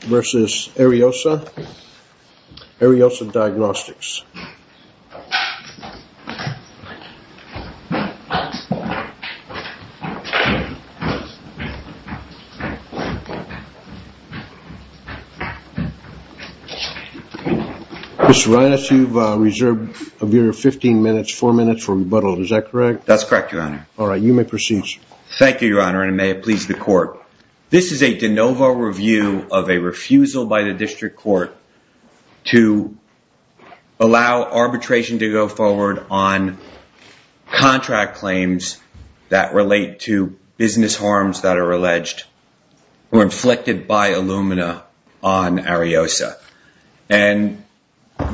v. Ariosa Diagnostics, Inc. Mr. Reines, you've reserved of your 15 minutes, 4 minutes for rebuttal. Is that correct? That's correct, Your Honor. All right, you may proceed. Thank you, Your Honor, and may it please the Court. This is a de novo review of a refusal by the District Court to allow arbitration to go forward on contract claims that relate to business harms that are alleged or inflicted by Illumina on Ariosa. And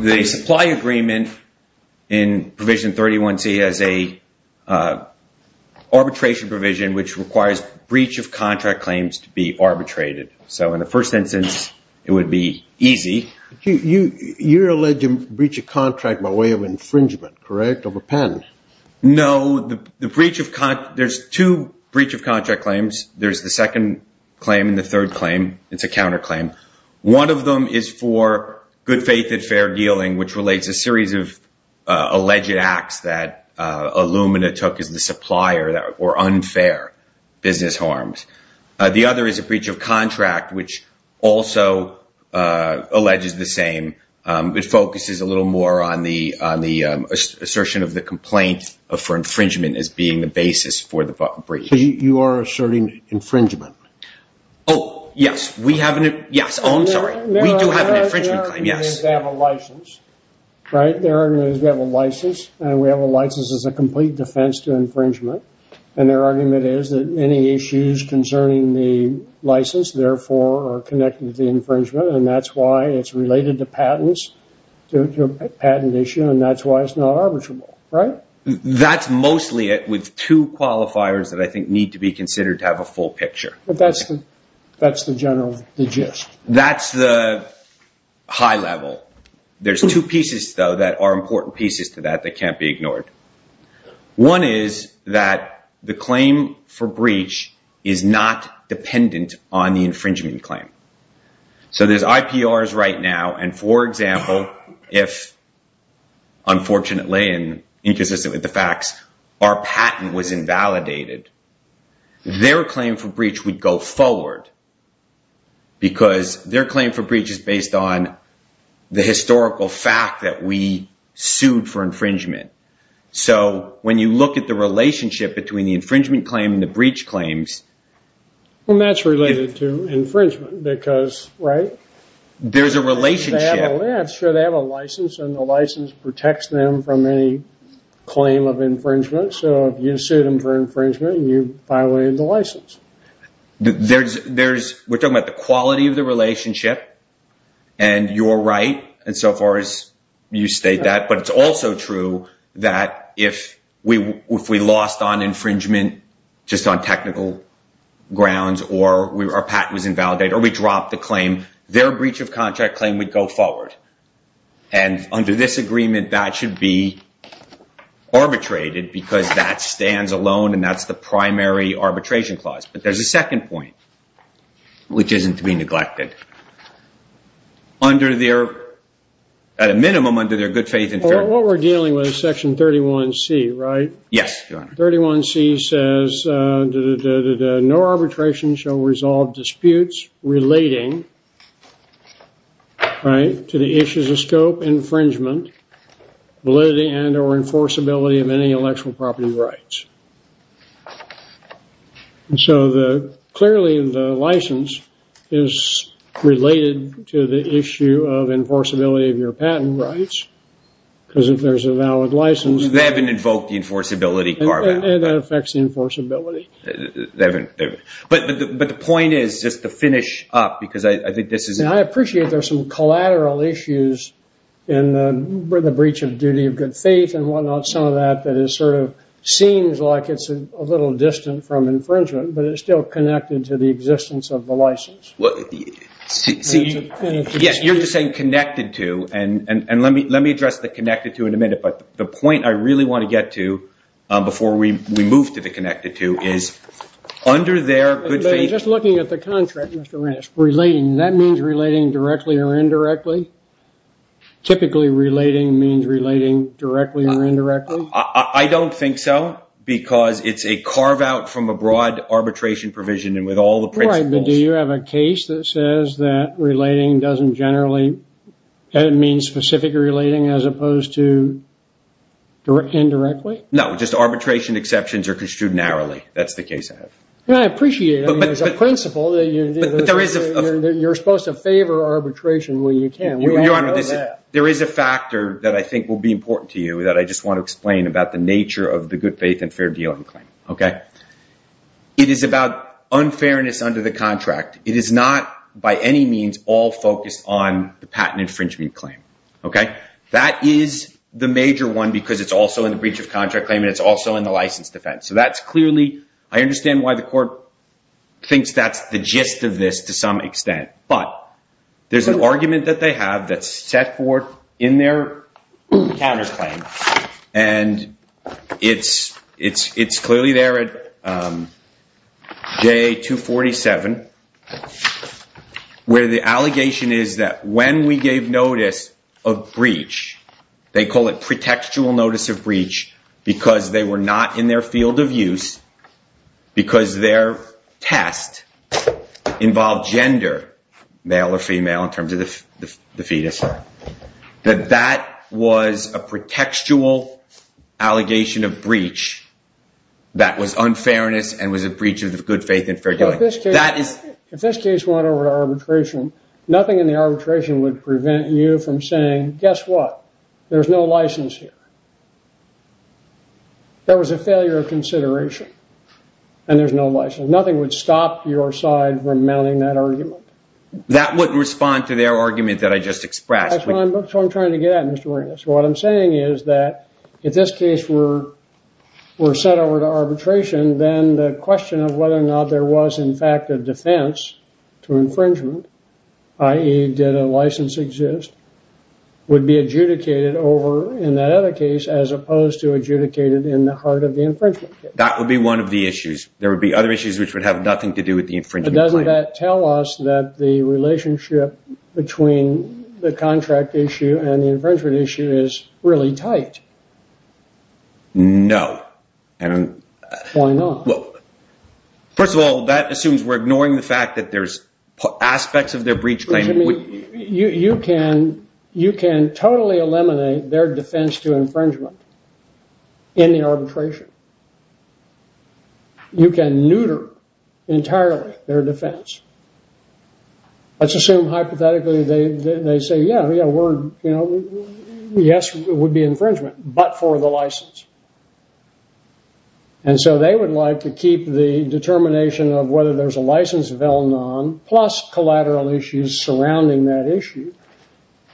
the supply agreement in Provision 31C has an arbitration provision which requires breach of contract claims to be arbitrated. So in the first instance, it would be easy. You're alleged to breach a contract by way of infringement, correct, of a patent? No, there's two breach of contract claims. There's the second claim and the third claim. It's a counterclaim. One of them is for good faith and fair dealing, which relates a series of alleged acts that Illumina took as the supplier that were unfair business harms. The other is a breach of contract, which also alleges the same. It focuses a little more on the assertion of the complaint for infringement as being the basis for the breach. So you are asserting infringement? Oh, yes. We do have an infringement claim, yes. They have a license, right? Their argument is we have a license, and we have a license as a complete defense to infringement. And their argument is that any issues concerning the license, therefore, are connected to the infringement. And that's why it's related to patents, to a patent issue, and that's why it's not arbitrable, right? That's mostly it with two qualifiers that I think need to be considered to have a full picture. But that's the general gist. That's the high level. There's two pieces, though, that are important pieces to that that can't be ignored. One is that the claim for breach is not dependent on the infringement claim. So there's IPRs right now, and for example, if unfortunately and inconsistent with the facts, our patent was invalidated, their claim for breach would go forward because their claim for breach is based on the historical fact that we sued for infringement. So when you look at the relationship between the infringement claim and the breach claims... There's a relationship. Sure, they have a license, and the license protects them from any claim of infringement. So if you sued them for infringement, you violated the license. We're talking about the quality of the relationship, and you're right insofar as you state that. But it's also true that if we lost on infringement just on technical grounds, or our patent was invalidated, or we dropped the claim, their breach of contract claim would go forward. And under this agreement, that should be arbitrated because that stands alone, and that's the primary arbitration clause. But there's a second point, which isn't to be neglected. At a minimum, under their good faith... What we're dealing with is Section 31C, right? Yes, Your Honor. 31C says, no arbitration shall resolve disputes relating to the issues of scope, infringement, validity, and or enforceability of any intellectual property rights. So clearly, the license is related to the issue of enforceability of your patent rights, because if there's a valid license... So they haven't invoked the enforceability... And that affects the enforceability. But the point is just to finish up, because I think this is... I appreciate there's some collateral issues in the breach of duty of good faith and whatnot, some of that that is sort of seems like it's a little distant from infringement, but it's still connected to the existence of the license. Yes, you're just saying connected to, and let me address the connected to in a minute. But the point I really want to get to before we move to the connected to is under their good faith... Relating directly or indirectly? Typically, relating means relating directly or indirectly? I don't think so, because it's a carve out from a broad arbitration provision and with all the principles... Right, but do you have a case that says that relating doesn't generally mean specific relating as opposed to indirectly? No, just arbitration exceptions are construed narrowly. That's the case I have. I appreciate it as a principle that you're supposed to favor arbitration when you can. Your Honor, there is a factor that I think will be important to you that I just want to explain about the nature of the good faith and fair dealing claim. It is about unfairness under the contract. It is not by any means all focused on the patent infringement claim. That is the major one because it's also in the breach of contract claim and it's also in the license defense. I understand why the court thinks that's the gist of this to some extent, but there's an argument that they have that's set forth in their counters claim. It's clearly there at JA 247 where the allegation is that when we gave notice of breach, they call it pretextual notice of breach because they were not in their field of use because their test involved gender, male or female, in terms of the fetus. That that was a pretextual allegation of breach that was unfairness and was a breach of the good faith and fair dealing. If this case went over to arbitration, nothing in the arbitration would prevent you from saying, guess what? There's no license here. There was a failure of consideration and there's no license. Nothing would stop your side from mounting that argument. That would respond to their argument that I just expressed. That's what I'm trying to get at, Mr. Warren. What I'm saying is that if this case were set over to arbitration, then the question of whether or not there was in fact a defense to infringement, i.e. did a license exist, would be adjudicated over in that other case as opposed to adjudicated in the heart of the infringement case. That would be one of the issues. There would be other issues which would have nothing to do with the infringement claim. Doesn't that tell us that the relationship between the contract issue and the infringement issue is really tight? No. Why not? First of all, that assumes we're ignoring the fact that there's aspects of their breach claim. You can totally eliminate their defense to infringement in the arbitration. You can neuter entirely their defense. Let's assume hypothetically they say, yes, it would be infringement, but for the license. They would like to keep the determination of whether there's a license of L-non plus collateral issues surrounding that issue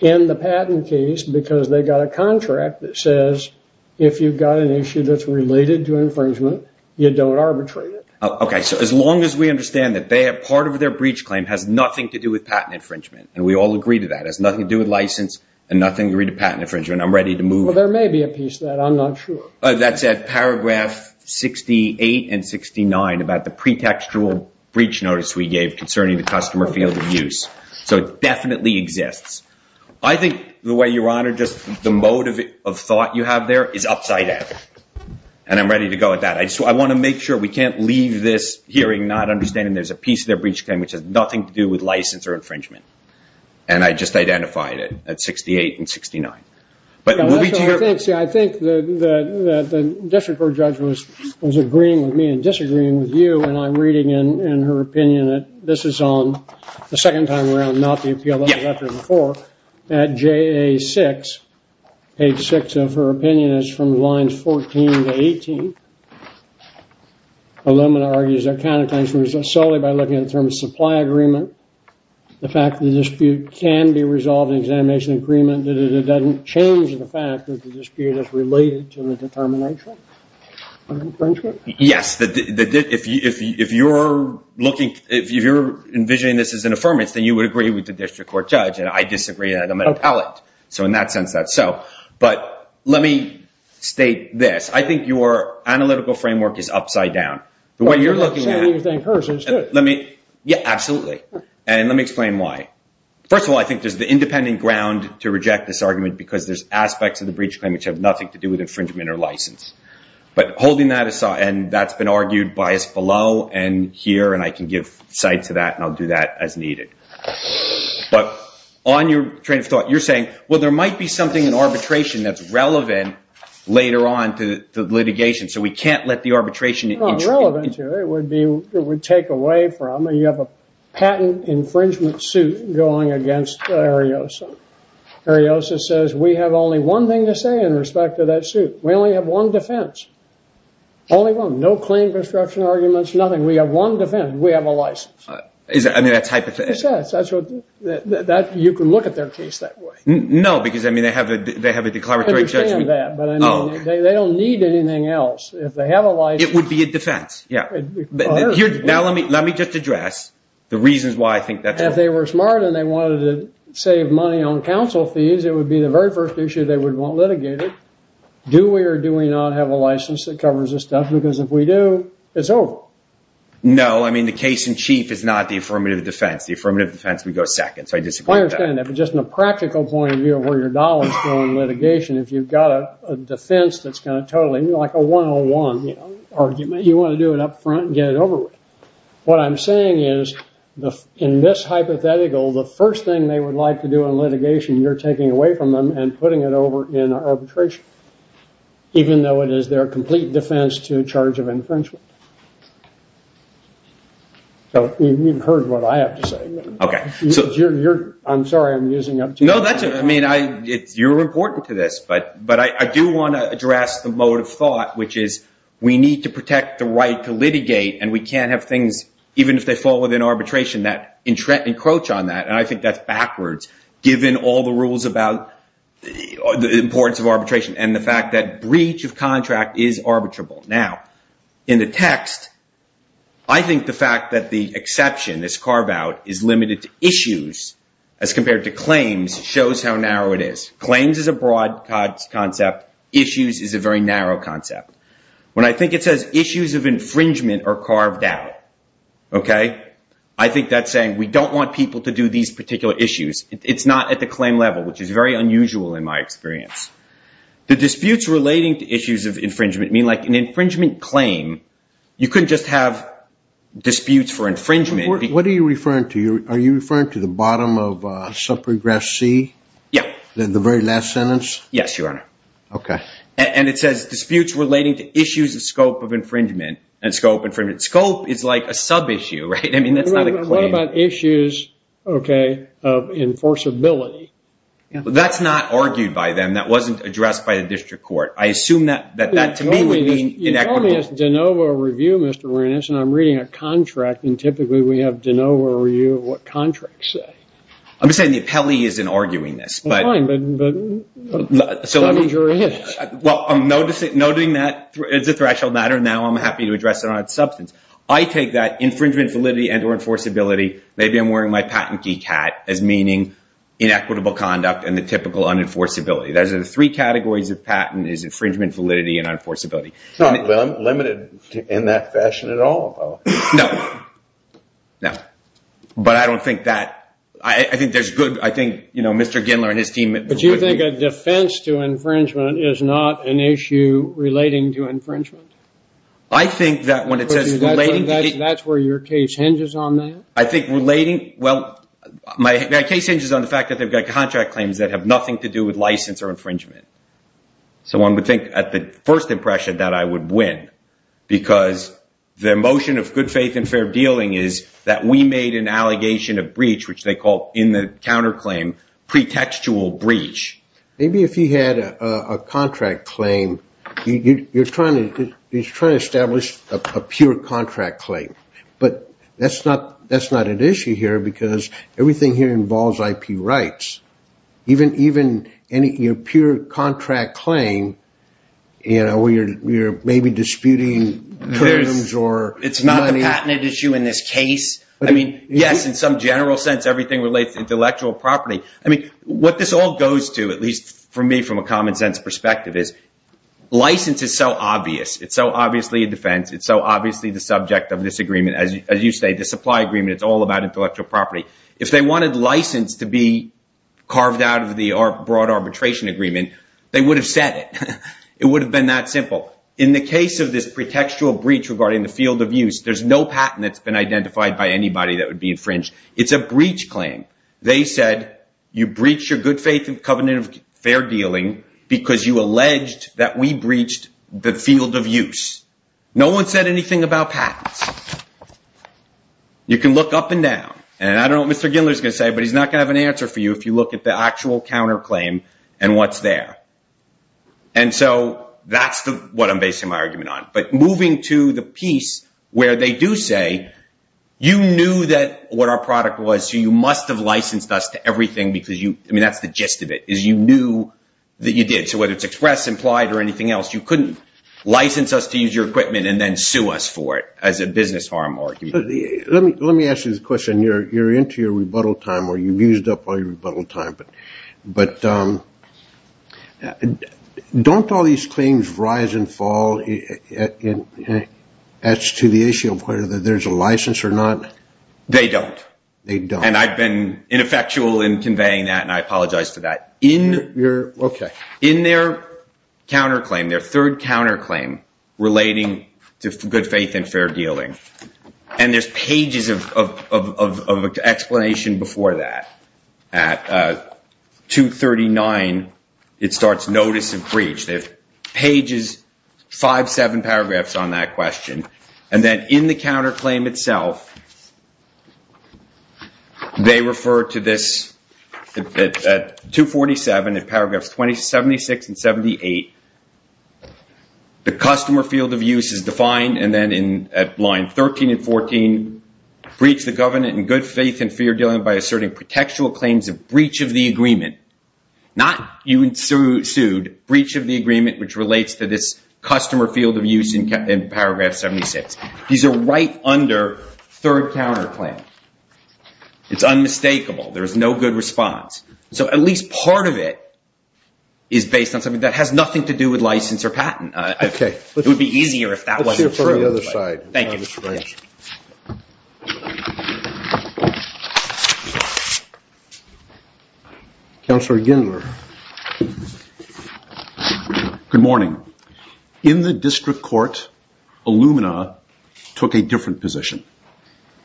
in the patent case because they've got a contract that says if you've got an issue that's related to infringement, you don't arbitrate it. As long as we understand that part of their breach claim has nothing to do with patent infringement, and we all agree to that, it has nothing to do with license and nothing to do with patent infringement, I'm ready to move it. Well, there may be a piece of that. I'm not sure. That's at paragraph 68 and 69 about the pretextual breach notice we gave concerning the customer field of use. So it definitely exists. I think the way, Your Honor, just the mode of thought you have there is upside down, and I'm ready to go with that. I want to make sure we can't leave this hearing not understanding there's a piece of their breach claim which has nothing to do with license or infringement, and I just identified it at 68 and 69. See, I think the district court judge was agreeing with me and disagreeing with you, and I'm reading in her opinion that this is on the second time around, not the appeal that was after before. At JA6, page 6 of her opinion is from lines 14 to 18. Illumina argues there are counterclaims solely by looking at the terms of supply agreement. The fact that the dispute can be resolved in an examination agreement doesn't change the fact that the dispute is related to the determination of infringement? Yes. If you're envisioning this as an affirmance, then you would agree with the district court judge, and I disagree. I'm an appellate. So in that sense, that's so. But let me state this. I think your analytical framework is upside down. The way you're looking at it. Absolutely. And let me explain why. First of all, I think there's the independent ground to reject this argument because there's aspects of the breach claim which have nothing to do with infringement or license. But holding that aside, and that's been argued by us below and here, and I can give side to that, and I'll do that as needed. But on your train of thought, you're saying, well, there might be something in arbitration that's relevant later on to the litigation, so we can't let the arbitration intrude. It's not relevant to it. It would take away from it. You have a patent infringement suit going against Ariosa. Ariosa says we have only one thing to say in respect to that suit. We only have one defense. Only one. No claim construction arguments. Nothing. We have one defense. We have a license. I mean, that's hypothetical. You can look at their case that way. No, because they have a declaratory judgment. I understand that, but they don't need anything else. If they have a license. It would be a defense. Now, let me just address the reasons why I think that's wrong. If they were smart and they wanted to save money on counsel fees, it would be the very first issue they would want litigated. Do we or do we not have a license that covers this stuff? Because if we do, it's over. No, I mean, the case in chief is not the affirmative defense. The affirmative defense would go second, so I disagree with that. I understand that, but just in a practical point of view of where your dollars go in litigation, if you've got a defense that's kind of totally like a 101 argument, you want to do it up front and get it over with. What I'm saying is in this hypothetical, the first thing they would like to do in litigation, you're taking away from them and putting it over in arbitration, even though it is their complete defense to charge of infringement. So you've heard what I have to say. Okay. I'm sorry I'm using up too much time. No, that's okay. I mean, you're important to this, but I do want to address the mode of thought, which is we need to protect the right to litigate, and we can't have things, even if they fall within arbitration, that encroach on that, and I think that's backwards. Given all the rules about the importance of arbitration and the fact that breach of contract is arbitrable. Now, in the text, I think the fact that the exception is carved out is limited to issues, as compared to claims, shows how narrow it is. Claims is a broad concept. Issues is a very narrow concept. When I think it says issues of infringement are carved out, okay, I think that's saying we don't want people to do these particular issues. It's not at the claim level, which is very unusual in my experience. The disputes relating to issues of infringement mean like an infringement claim, you couldn't just have disputes for infringement. What are you referring to? Are you referring to the bottom of subprogress C? Yeah. The very last sentence? Yes, Your Honor. Okay. And it says disputes relating to issues of scope of infringement and scope infringement. Scope is like a sub-issue, right? I mean, that's not a claim. What about issues, okay, of enforceability? That's not argued by them. That wasn't addressed by the district court. I assume that to me would be inequitable. You told me it's de novo review, Mr. Werenis, and I'm reading a contract, and typically we have de novo review of what contracts say. I'm just saying the appellee isn't arguing this. Well, fine, but subject your interest. Well, I'm noting that it's a threshold matter, and now I'm happy to address it on its substance. I take that infringement validity and or enforceability. Maybe I'm wearing my patent geek hat as meaning inequitable conduct and the typical unenforceability. Those are the three categories of patent is infringement validity and unenforceability. It's not limited in that fashion at all, though. No. No. But I don't think that – I think there's good – I think, you know, Mr. Gindler and his team would agree. Do you think that defense to infringement is not an issue relating to infringement? I think that when it says relating to – That's where your case hinges on that? I think relating – well, my case hinges on the fact that they've got contract claims that have nothing to do with license or infringement. So one would think at the first impression that I would win because their motion of good faith and fair dealing is that we made an allegation of breach, which they call in the counterclaim pretextual breach. Maybe if you had a contract claim, you're trying to establish a pure contract claim. But that's not an issue here because everything here involves IP rights. Even your pure contract claim, you know, where you're maybe disputing terms or money. It's not a patent issue in this case? I mean, yes, in some general sense, everything relates to intellectual property. I mean, what this all goes to, at least for me from a common sense perspective, is license is so obvious. It's so obviously a defense. It's so obviously the subject of this agreement. As you say, the supply agreement, it's all about intellectual property. If they wanted license to be carved out of the broad arbitration agreement, they would have said it. It would have been that simple. In the case of this pretextual breach regarding the field of use, there's no patent that's been identified by anybody that would be infringed. It's a breach claim. They said you breached your good faith covenant of fair dealing because you alleged that we breached the field of use. No one said anything about patents. You can look up and down, and I don't know what Mr. Gindler is going to say, but he's not going to have an answer for you if you look at the actual counterclaim and what's there. And so that's what I'm basing my argument on. But moving to the piece where they do say you knew what our product was, so you must have licensed us to everything because that's the gist of it, is you knew that you did. So whether it's express, implied, or anything else, you couldn't license us to use your equipment and then sue us for it as a business harm argument. Let me ask you this question. You're into your rebuttal time, or you've used up all your rebuttal time, but don't all these claims rise and fall as to the issue of whether there's a license or not? They don't. They don't. And I've been ineffectual in conveying that, and I apologize for that. Okay. In their counterclaim, their third counterclaim relating to good faith and fair dealing, and there's pages of explanation before that. At 239, it starts notice of breach. They have pages, five, seven paragraphs on that question. And then in the counterclaim itself, they refer to this at 247, in paragraphs 76 and 78. The customer field of use is defined, and then at line 13 and 14, breach the government in good faith and fair dealing by asserting protectual claims of breach of the agreement. Not you sued, breach of the agreement, which relates to this customer field of use in paragraph 76. These are right under third counterclaim. It's unmistakable. There's no good response. So at least part of it is based on something that has nothing to do with license or patent. Okay. It would be easier if that wasn't true. Let's hear from the other side. Thank you. Councillor Gindler. Good morning. In the district court, Illumina took a different position,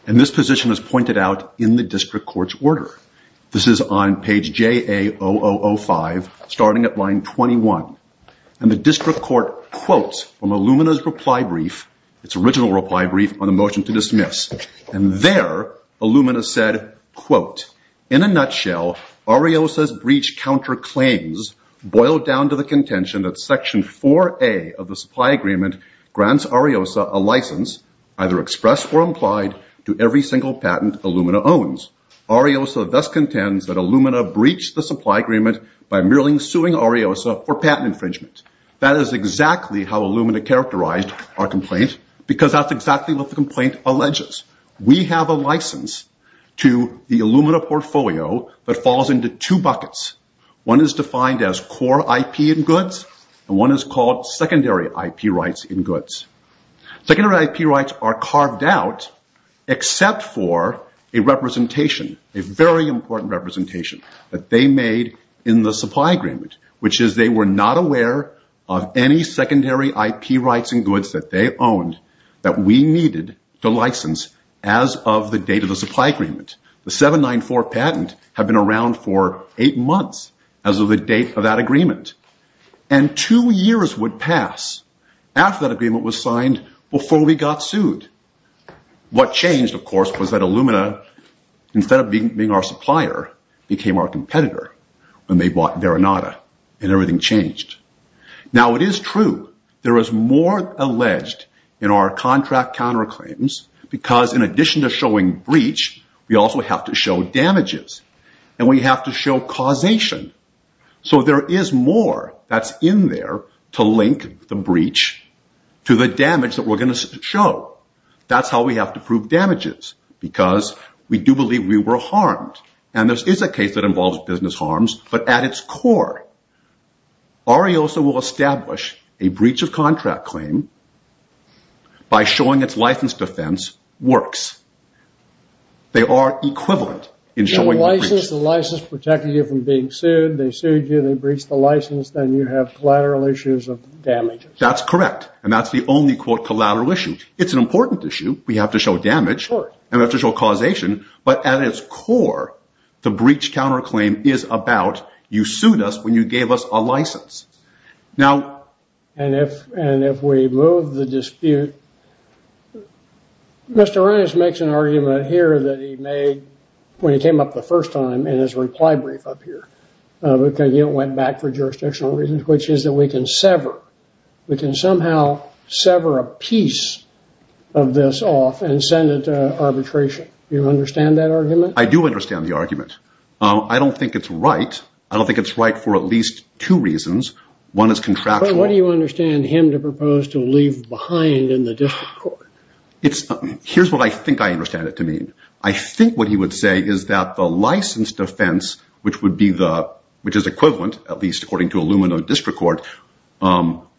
and this position is pointed out in the district court's order. This is on page JA0005, starting at line 21. And the district court quotes from Illumina's reply brief, its original reply brief on the motion to dismiss. And there, Illumina said, quote, in a nutshell Ariosa's breach counterclaims boiled down to the contention that section 4A of the supply agreement grants Ariosa a license, either expressed or implied, to every single patent Illumina owns. Ariosa thus contends that Illumina breached the supply agreement by merely suing Ariosa for patent infringement. That is exactly how Illumina characterized our complaint, because that's exactly what the complaint alleges. We have a license to the Illumina portfolio that falls into two buckets. One is defined as core IP and goods, and one is called secondary IP rights and goods. Secondary IP rights are carved out except for a representation, a very important representation that they made in the supply agreement, which is they were not aware of any secondary IP rights and goods that they owned that we needed to license as of the date of the supply agreement. The 794 patent had been around for eight months as of the date of that before we got sued. What changed, of course, was that Illumina, instead of being our supplier, became our competitor when they bought Veronata, and everything changed. Now, it is true there is more alleged in our contract counterclaims, because in addition to showing breach, we also have to show damages, and we have to show causation. So there is more that's in there to link the breach to the damage that we're going to show. That's how we have to prove damages, because we do believe we were harmed, and this is a case that involves business harms, but at its core, Ariosa will establish a breach of contract claim by showing its license defense works. They are equivalent in showing the breach. If someone else protected you from being sued, they sued you, they breached the license, then you have collateral issues of damages. That's correct, and that's the only collateral issue. It's an important issue. We have to show damage, and we have to show causation, but at its core, the breach counterclaim is about you sued us when you gave us a license. And if we move the dispute, Mr. Reines makes an argument here that he made when he came up the first time in his reply brief up here, because he went back for jurisdictional reasons, which is that we can sever. We can somehow sever a piece of this off and send it to arbitration. Do you understand that argument? I do understand the argument. I don't think it's right. I don't think it's right for at least two reasons. One is contractual. But what do you understand him to propose to leave behind in the district court? Here's what I think I understand it to mean. I think what he would say is that the license defense, which is equivalent, at least according to Illumina District Court,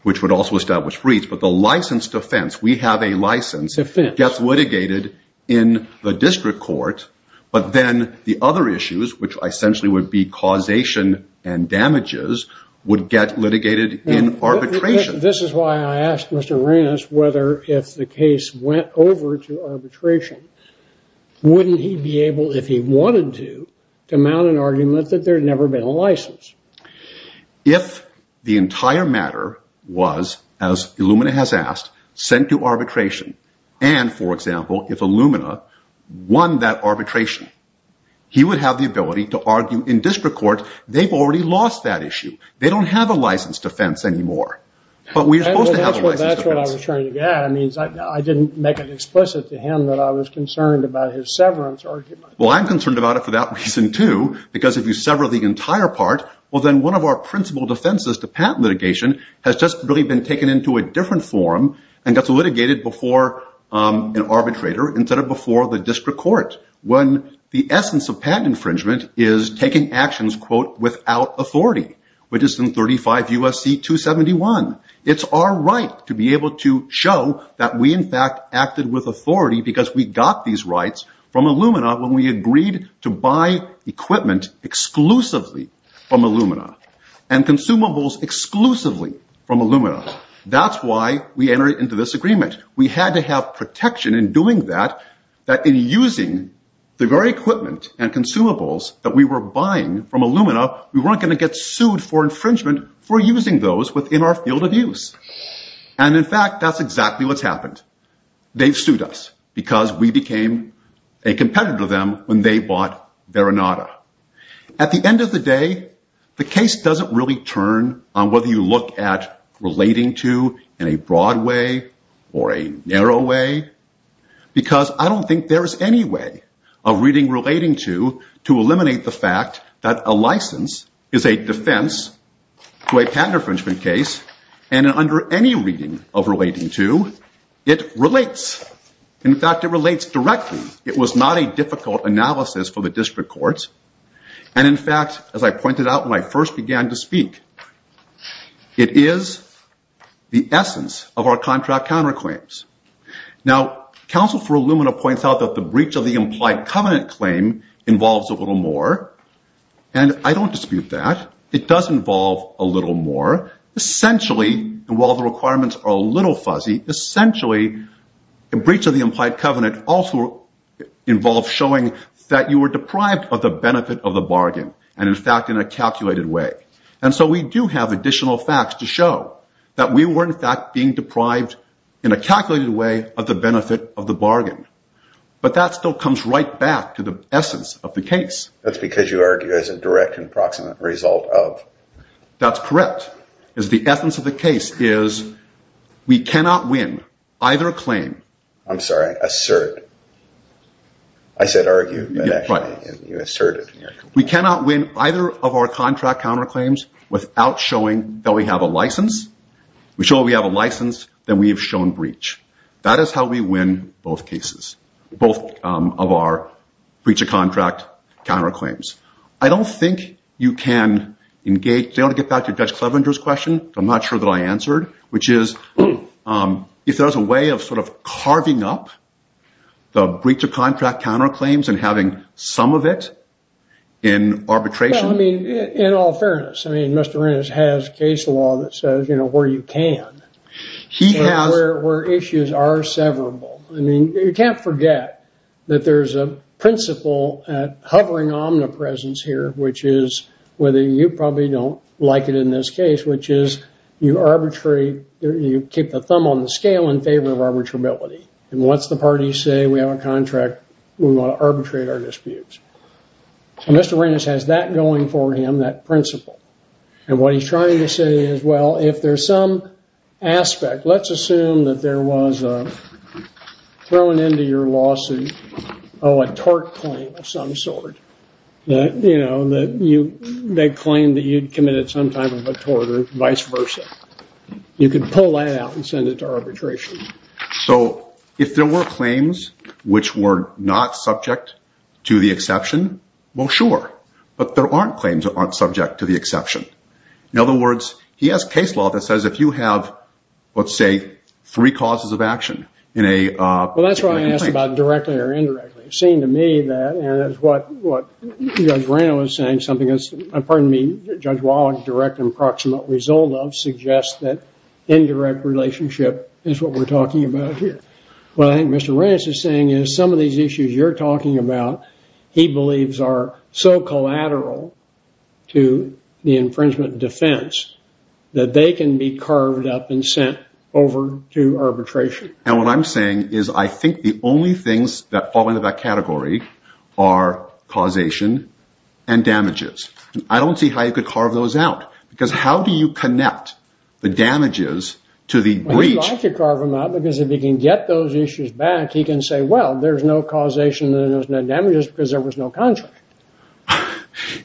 which would also establish breach, but the license defense, we have a license, gets litigated in the district court, but then the other issues, which essentially would be causation and damages, would get litigated in arbitration. This is why I asked Mr. Reines whether if the case went over to arbitration, wouldn't he be able, if he wanted to, to mount an argument that there had never been a license? If the entire matter was, as Illumina has asked, sent to arbitration, and, for example, if Illumina won that arbitration, he would have the ability to argue in district court they've already lost that issue. They don't have a license defense anymore. That's what I was trying to get at. I didn't make it explicit to him that I was concerned about his severance argument. Well, I'm concerned about it for that reason, too, because if you sever the entire part, well, then one of our principal defenses to patent litigation has just really been taken into a different form and gets litigated before an arbitrator instead of before the district court, when the essence of patent infringement is taking actions, quote, without authority, which is in 35 U.S.C. 271. It's our right to be able to show that we, in fact, acted with authority because we got these rights from Illumina when we agreed to buy equipment exclusively from Illumina and consumables exclusively from Illumina. That's why we entered into this agreement. We had to have protection in doing that, that in using the very equipment and consumables that we were buying from Illumina, we weren't going to get sued for infringement for using those within our field of use. And in fact, that's exactly what's happened. They've sued us because we became a competitor to them when they bought Veronata. At the end of the day, the case doesn't really turn on whether you look at relating to in a broad way or a narrow way, because I don't think there is any way of reading relating to to eliminate the fact that a license is a defense to a patent infringement case. And under any reading of relating to, it relates. In fact, it relates directly. It was not a difficult analysis for the district courts. And in fact, as I pointed out when I first began to speak, it is the essence of our contract counterclaims. Now, counsel for Illumina points out that the breach of the implied covenant claim involves a little more. And I don't dispute that. It does involve a little more. Essentially, while the requirements are a little fuzzy, essentially, a breach of the implied covenant also involves showing that you were deprived of the benefit of the bargain, and in fact, in a calculated way. And so we do have additional facts to show that we were in fact being deprived in a calculated way of the benefit of the bargain. But that still comes right back to the essence of the case. That's because you argue as a direct and proximate result of... That's correct. The essence of the case is we cannot win either claim... I'm sorry, assert. I said argue, but actually you asserted. We cannot win either of our contract counterclaims without showing that we have a license. We show we have a license, then we have shown breach. That is how we win both cases, both of our breach-of-contract counterclaims. I don't think you can engage... Do you want to get back to Judge Clevenger's question, which I'm not sure that I answered, which is if there's a way of sort of carving up the breach-of-contract counterclaims and having some of it in arbitration... Well, I mean, in all fairness, I mean, Mr. Reynolds has case law that says, you know, where you can, where issues are severable. I mean, you can't forget that there's a principle at hovering omnipresence here, which is whether you probably don't like it in this case, which is you keep the thumb on the scale in favor of arbitrability. And once the parties say we have a contract, we want to arbitrate our disputes. Mr. Reynolds has that going for him, that principle. And what he's trying to say is, well, if there's some aspect, let's assume that there was a, thrown into your lawsuit, oh, a tort claim of some sort, that, you know, that you, they claimed that you'd committed some type of a tort or vice versa. You could pull that out and send it to arbitration. So if there were claims which were not subject to the exception, well, sure. But there aren't claims that aren't subject to the exception. In other words, he has case law that says if you have, let's say, three causes of action in a... Well, that's what I asked about directly or indirectly. It seemed to me that, and that's what Judge Reynolds was saying, something that's, pardon me, Judge Wallen's direct and proximate result of suggests that indirect relationship is what we're talking about here. What I think Mr. Reynolds is saying is some of these issues you're talking about he believes are so collateral to the infringement defense that they can be carved up and sent over to arbitration. And what I'm saying is I think the only things that fall into that category are causation and damages. I don't see how you could carve those out because how do you connect the damages to the breach? I could carve them out because if he can get those issues back, he can say, well, there's no causation and there's no damages because there was no contract.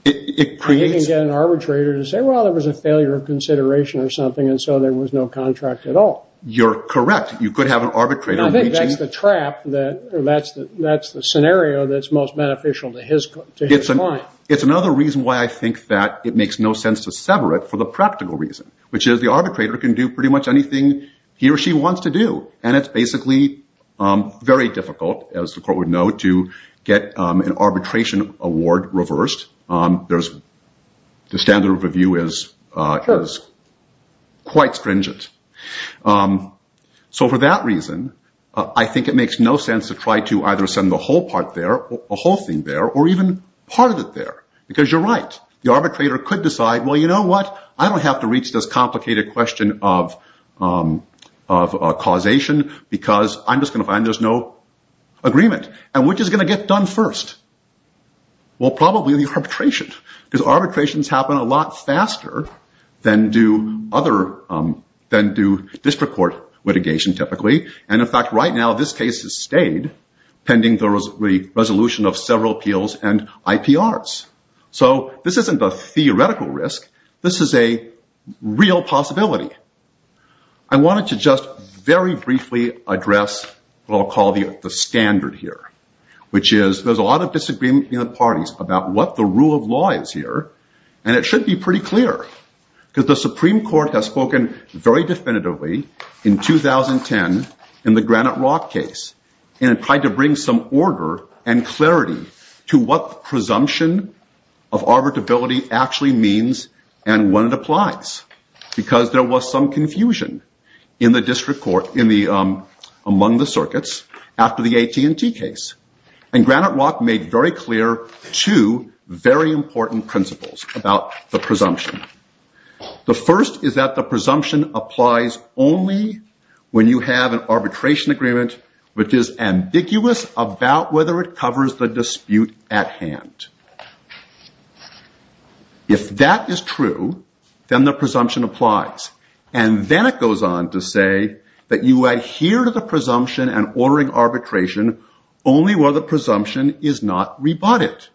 It creates... He can get an arbitrator to say, well, there was a failure of consideration or something and so there was no contract at all. You're correct. You could have an arbitrator reaching... I think that's the trap that, that's the scenario that's most beneficial to his client. It's another reason why I think that it makes no sense to sever it for the practical reason, which is the arbitrator can do pretty much anything he or she wants to do. And it's basically very difficult, as the court would know, to get an arbitration award reversed. The standard of review is quite stringent. So for that reason, I think it makes no sense to try to either send the whole part there, a whole thing there, or even part of it there because you're right. The arbitrator could decide, well, you know what? I don't have to reach this complicated question of causation because I'm just going to find there's no agreement. And which is going to get done first? Well, probably the arbitration because arbitrations happen a lot faster than do district court litigation typically. And in fact, right now, this case has stayed pending the resolution of several appeals and IPRs. So this isn't a theoretical risk. This is a real possibility. I wanted to just very briefly address what I'll call the standard here, which is there's a lot of disagreement in the parties about what the rule of law is here. And it should be pretty clear because the Supreme Court has spoken very definitively in 2010 in the Granite Rock case and tried to bring some order and clarity to what presumption of arbitrability actually means and when it applies because there was some confusion in the district court among the circuits after the AT&T case. And Granite Rock made very clear two very important principles about the presumption. The first is that the presumption applies only when you have an arbitration agreement which is ambiguous about whether it covers the dispute at hand. If that is true, then the presumption applies. And then it goes on to say that you adhere to the presumption and ordering arbitration only where the presumption is not rebutted.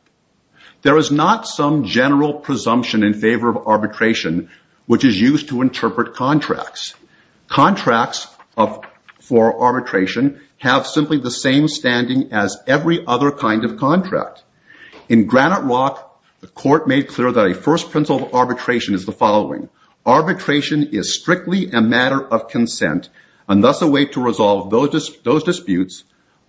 There is not some general presumption in favor of arbitration which is used to interpret contracts. Contracts for arbitration have simply the same standing as every other kind of contract. In Granite Rock, the court made clear that a first principle of arbitration is the following. Arbitration is strictly a matter of consent and thus a way to resolve those disputes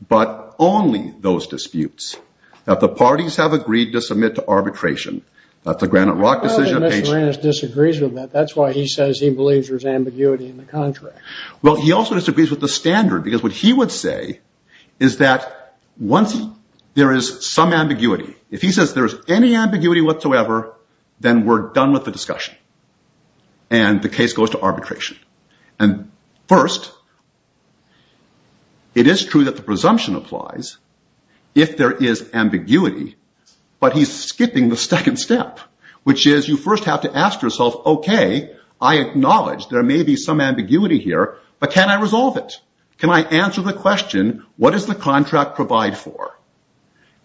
but only those disputes that the parties have agreed to submit to arbitration. That's a Granite Rock decision. I know that Mr. Marinas disagrees with that. That's why he says he believes there's ambiguity in the contract. Well, he also disagrees with the standard because what he would say is that once there is some ambiguity, if he says there's any ambiguity whatsoever, then we're done with the discussion and the case goes to arbitration. And first, it is true that the presumption applies if there is ambiguity but he's skipping the second step which is you first have to ask yourself, okay, I acknowledge there may be some ambiguity here but can I resolve it? Can I answer the question, what does the contract provide for?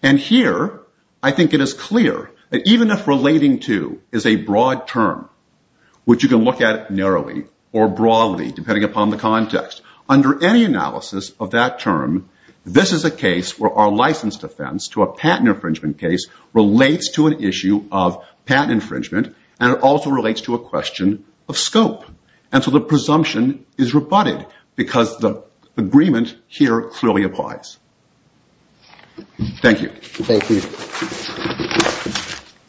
And here, I think it is clear that even if relating to is a broad term which you can look at narrowly or broadly depending upon the context, under any analysis of that term, this is a case where our license defense to a patent infringement case relates to an issue of patent infringement and it also relates to a question of scope. And so the presumption is rebutted because the agreement here clearly applies. Thank you. Thank you.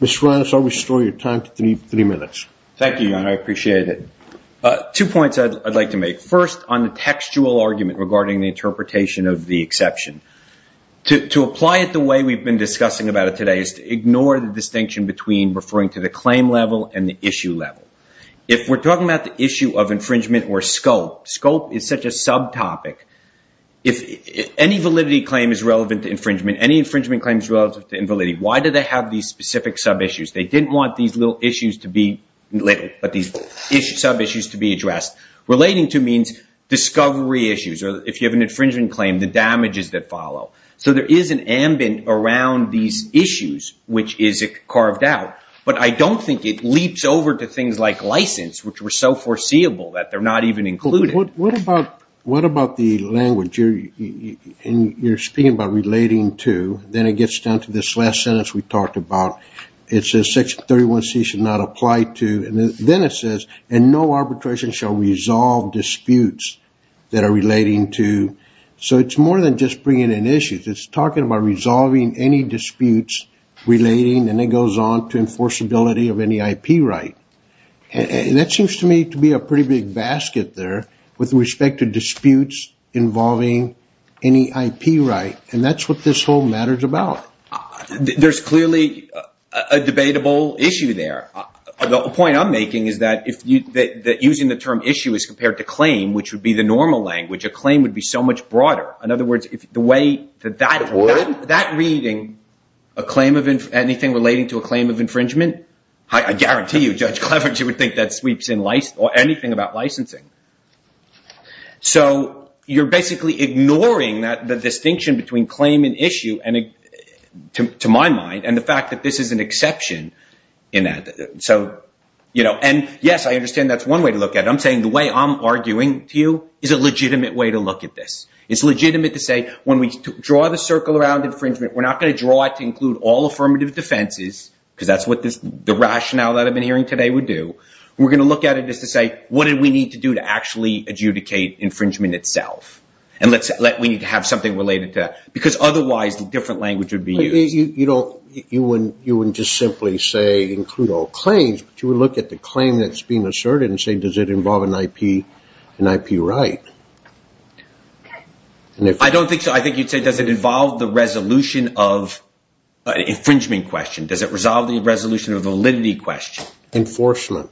Mr. Reines, I'll restore your time to three minutes. Thank you, John. I appreciate it. Two points I'd like to make. First, on the textual argument regarding the interpretation of the exception. To apply it the way we've been discussing about it today is to ignore the distinction between referring to the claim level and the issue level. If we're talking about the issue of infringement or scope, scope is such a subtopic. If any validity claim is relevant to infringement, any infringement claim is relevant to invalidity, why do they have these specific sub-issues? They didn't want these little issues to be little, but these sub-issues to be addressed. Relating to means discovery issues or if you have an infringement claim, the damages that follow. So there is an ambient around these issues which is carved out, but I don't think it leaps over to things like license which were so foreseeable that they're not even included. What about the language? You're speaking about relating to. Then it gets down to this last sentence we talked about. It says Section 31C should not apply to. Then it says, and no arbitration shall resolve disputes that are relating to. So it's more than just bringing in issues. It's talking about resolving any disputes relating, and it goes on to enforceability of any IP right. That seems to me to be a pretty big basket there with respect to disputes involving any IP right, and that's what this whole matter is about. There's clearly a debatable issue there. The point I'm making is that using the term issue as compared to claim, which would be the normal language, a claim would be so much broader. In other words, the way that that reading, anything relating to a claim of infringement, I guarantee you Judge Cleveridge would think that sweeps in anything about licensing. So you're basically ignoring the distinction between claim and issue, to my mind, and the fact that this is an exception. Yes, I understand that's one way to look at it. I'm saying the way I'm arguing to you is a legitimate way to look at this. It's legitimate to say when we draw the circle around infringement, we're not going to draw it to include all affirmative defenses because that's what the rationale that I've been hearing today would do. We're going to look at it just to say what do we need to do to actually adjudicate infringement itself? And let's say we need to have something related to that because otherwise the different language would be used. You wouldn't just simply say include all claims, but you would look at the claim that's being asserted and say does it involve an IP right? I don't think so. I think you'd say does it involve the resolution of an infringement question? Does it resolve the resolution of validity question? Enforcement.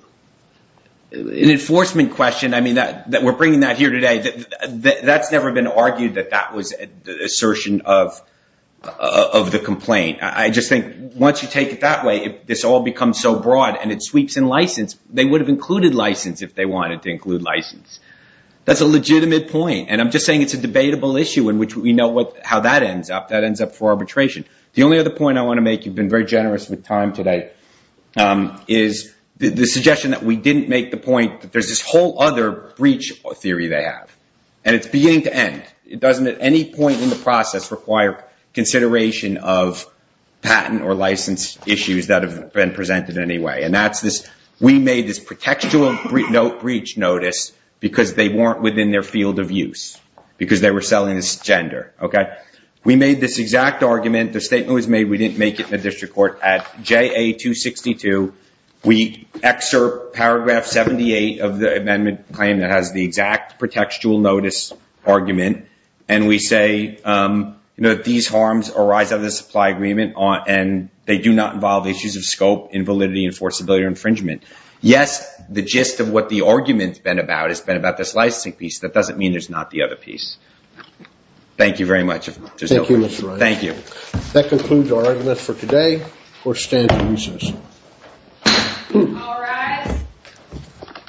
An enforcement question. We're bringing that here today. That's never been argued that that was the assertion of the complaint. I just think once you take it that way, if this all becomes so broad and it sweeps in license, they would have included license if they wanted to include license. That's a legitimate point. I'm just saying it's a debatable issue in which we know how that ends up. That ends up for arbitration. The only other point I want to make, you've been very generous with time today, is the suggestion that we didn't make the point that there's this whole other breach theory they have and it's beginning to end. It doesn't at any point in the process require consideration of patent or license issues that have been presented in any way. We made this pretextual note breach notice because they weren't within their field of use because they were selling this gender. We made this exact argument. The statement was made, we didn't make it in the district court at JA 262. We excerpt paragraph 78 of the amendment claim that has the exact pretextual notice argument and we say these harms arise out of the supply agreement and they do not involve issues of scope, invalidity, enforceability, or infringement. Yes, the gist of what the argument's been about has been about this licensing piece. That doesn't mean there's not the other piece. Thank you very much. Thank you, Mr. Wright. Thank you. That concludes our argument for today. Court is adjourned until recess. All rise.